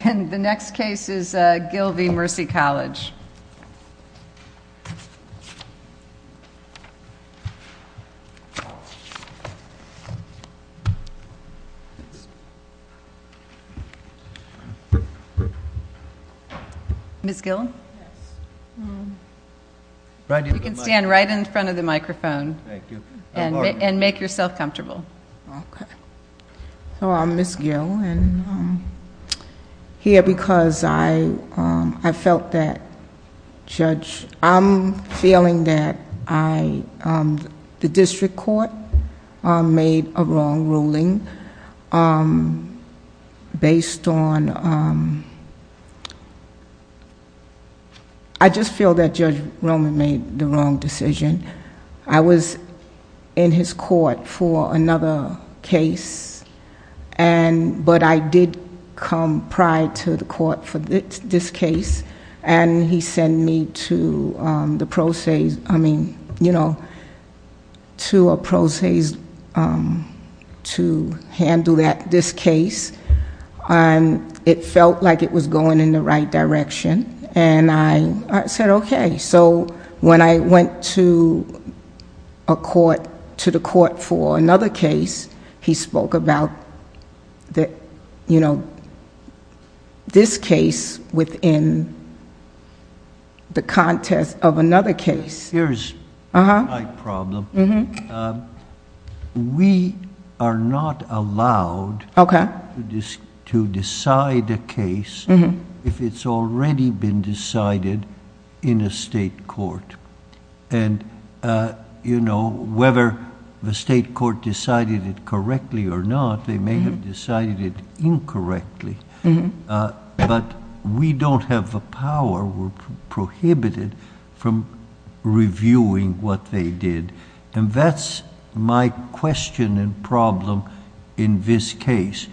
And the next case is Gil v. Mercy College. Ms. Gill? You can stand right in front of the microphone and make yourself comfortable. Okay. So I'm Ms. Gill and I'm here because I felt that, Judge, I'm feeling that the District Court made a wrong ruling based on... I just feel that Judge Roman made the wrong decision. I was in his court for another case, but I did come prior to the court for this case, and he sent me to a process to handle this case. It felt like it was going in the right direction, and I said, okay. So when I went to the court for another case, he spoke about this case within the context of another case. Here's my problem. We are not allowed to decide a case if it's already been decided in a state court. Whether the state court decided it correctly or not, they may have decided it incorrectly, but we don't have the power, we're prohibited from reviewing what they did. That's my question and problem in this case.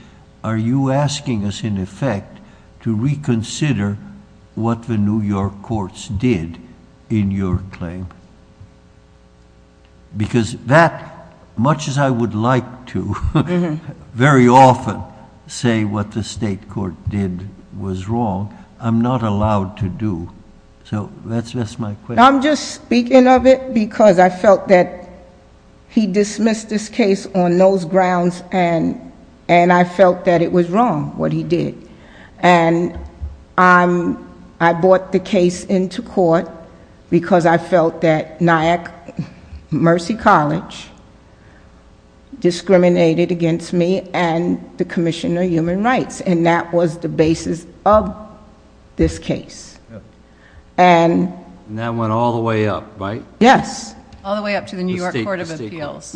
Are you asking us, in effect, to reconsider what the New York courts did in your was wrong. I'm not allowed to do. So that's my question. I'm just speaking of it because I felt that he dismissed this case on those grounds and I felt that it was wrong, what he did. I brought the case into court because I felt that NIAC, Mercy College, discriminated against me and the Commission on Human Rights, and that was the basis of this case. That went all the way up, right? Yes, all the way up to the New York Court of Appeals.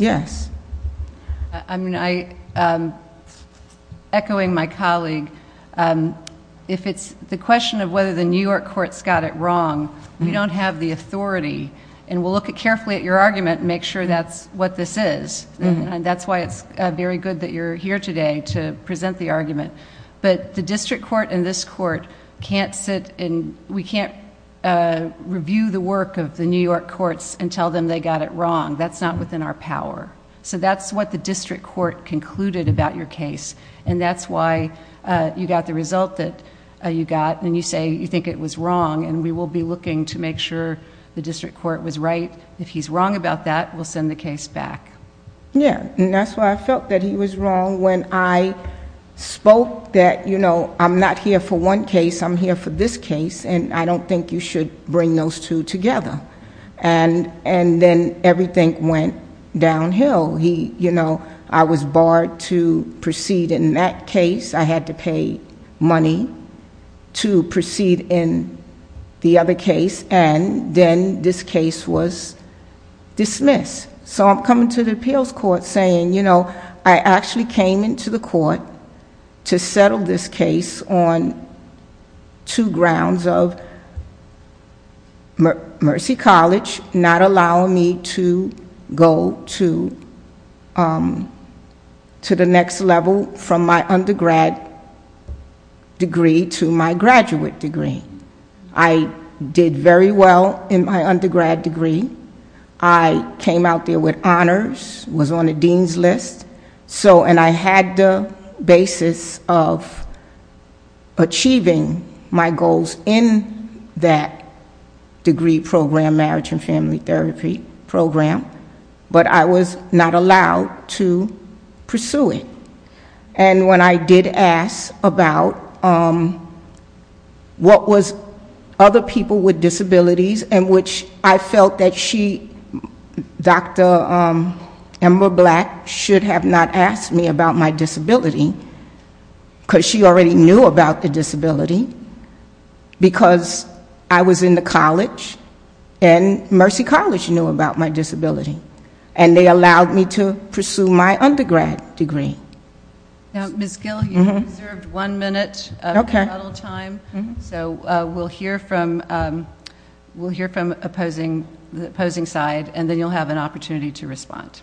Echoing my colleague, the question of whether the New York courts got it wrong, we don't have the authority, and we'll look carefully at your argument and make sure that's what this is. That's why it's very good that you're here today to present the argument, but the district court and this court can't sit and we can't review the work of the New York courts and tell them they got it wrong. That's not within our power. So that's what the district court concluded about your case, and that's why you got the result that you got, and you say you think it was wrong, and we will be looking to make sure the district court was right. If he's wrong about that, we'll send the case back. Yeah, and that's why I felt that he was wrong when I spoke that I'm not here for one case, I'm here for this case, and I don't think you should bring those two together. And then everything went downhill. I was barred to proceed in that case. I had to pay money to proceed in the other case, and then this case was dismissed. So I'm coming to the appeals court saying, you know, I actually came into the court to settle this case on two grounds of Mercy College not allowing me to go to the next level from my undergrad degree. I came out there with honors, was on the dean's list, and I had the basis of achieving my goals in that degree program, marriage and family therapy program, but I was not allowed to pursue it. And when I did ask about what was other people with disabilities, in which I felt that she, Dr. Amber Black, should have not asked me about my disability, because she already knew about the disability, because I was in the Ms. Gill, you have reserved one minute of the model time, so we'll hear from the opposing side, and then you'll have an opportunity to respond.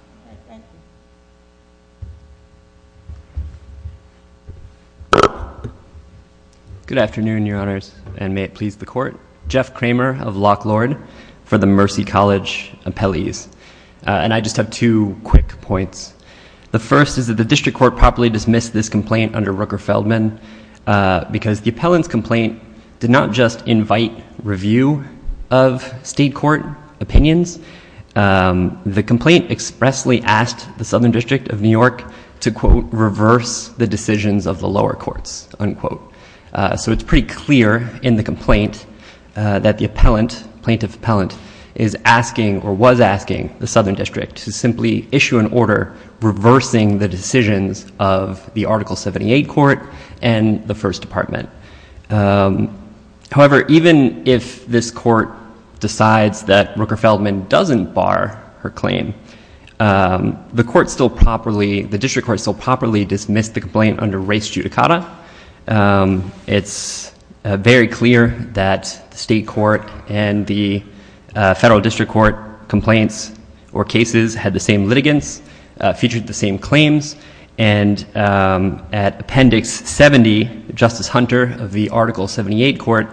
Good afternoon, your honors, and may it please the court. Jeff Kramer of Lock Lord for the Mercy College appellees, and I just have two quick points. The first is that the district court properly dismissed this complaint under Rooker-Feldman, because the appellant's complaint did not just invite review of state court opinions, the complaint expressly asked the Southern District of New York to, quote, reverse the decisions of the lower courts, unquote. So it's pretty clear in the complaint that the plaintiff appellant is asking, or was asking, the Southern District to simply issue an order reversing the decisions of the Article 78 court and the First Department. However, even if this court decides that Rooker-Feldman doesn't bar her claim, the district court still properly dismissed the complaint under race judicata. It's very clear that state court and the federal district court complaints or cases had the same litigants, featured the same claims, and at Appendix 70, Justice Hunter of the Article 78 court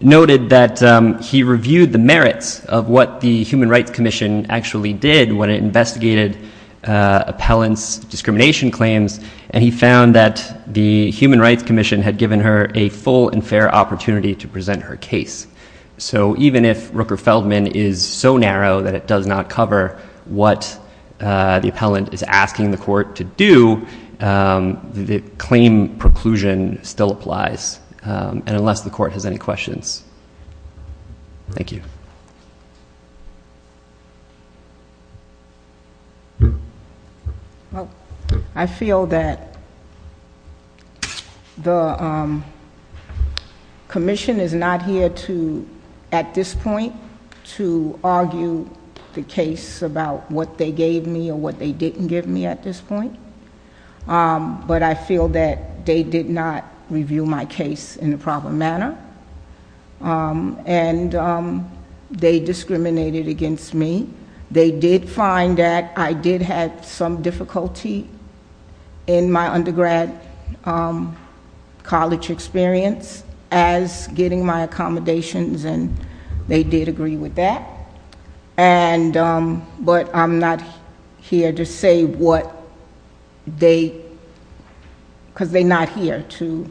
noted that he reviewed the merits of what the Human Rights Commission actually did when it investigated the appellant's discrimination claims, and he found that the Human Rights Commission had given her a full and fair opportunity to present her case. So even if Rooker-Feldman is so narrow that it does not cover what the appellant is asking the court to do, the claim preclusion still applies, and unless the court has any questions. Thank you. I feel that the commission is not here to, at this point, to argue the case about what they gave me or what they didn't give me at this point, but I feel that they did not review my case in a proper manner, and they discriminated against me. They did find that I did have some difficulty in my undergrad college experience as getting my accommodations, and they did agree with that, but I'm not here to say what they, because they're not here to,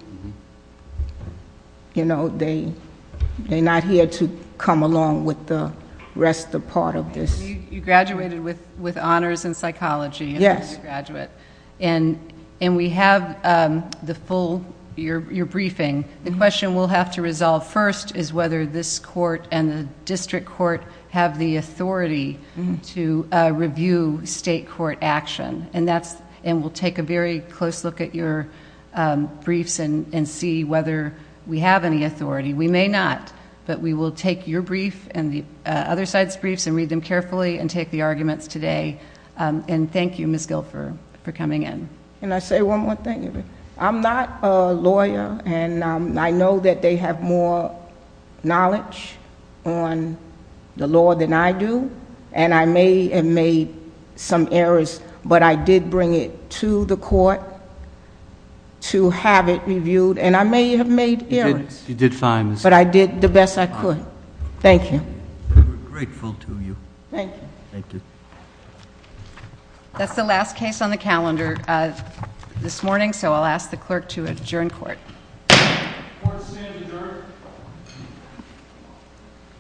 you know, they're not here to come along with the rest of the part of this. You graduated with honors in psychology as an undergraduate, and we have the full, your briefing. The question we'll have to resolve first is whether this court and the district court have the authority to review state court action, and we'll take a very close look at your briefs and see whether we have any authority. We may not, but we will take your brief and the other side's briefs and read them carefully and take the arguments today, and thank you, Ms. Guilford, for coming in. Can I say one more thing? I'm not a lawyer, and I know that they have more knowledge on the law than I do, and I may have made some errors, but I did bring it to the court to have it reviewed, and I may have made errors. You did fine. But I did the best I could. Thank you. We're grateful to you. Thank you. Thank you. That's the last case on the calendar this morning, so I'll ask the clerk to adjourn court. Court is adjourned.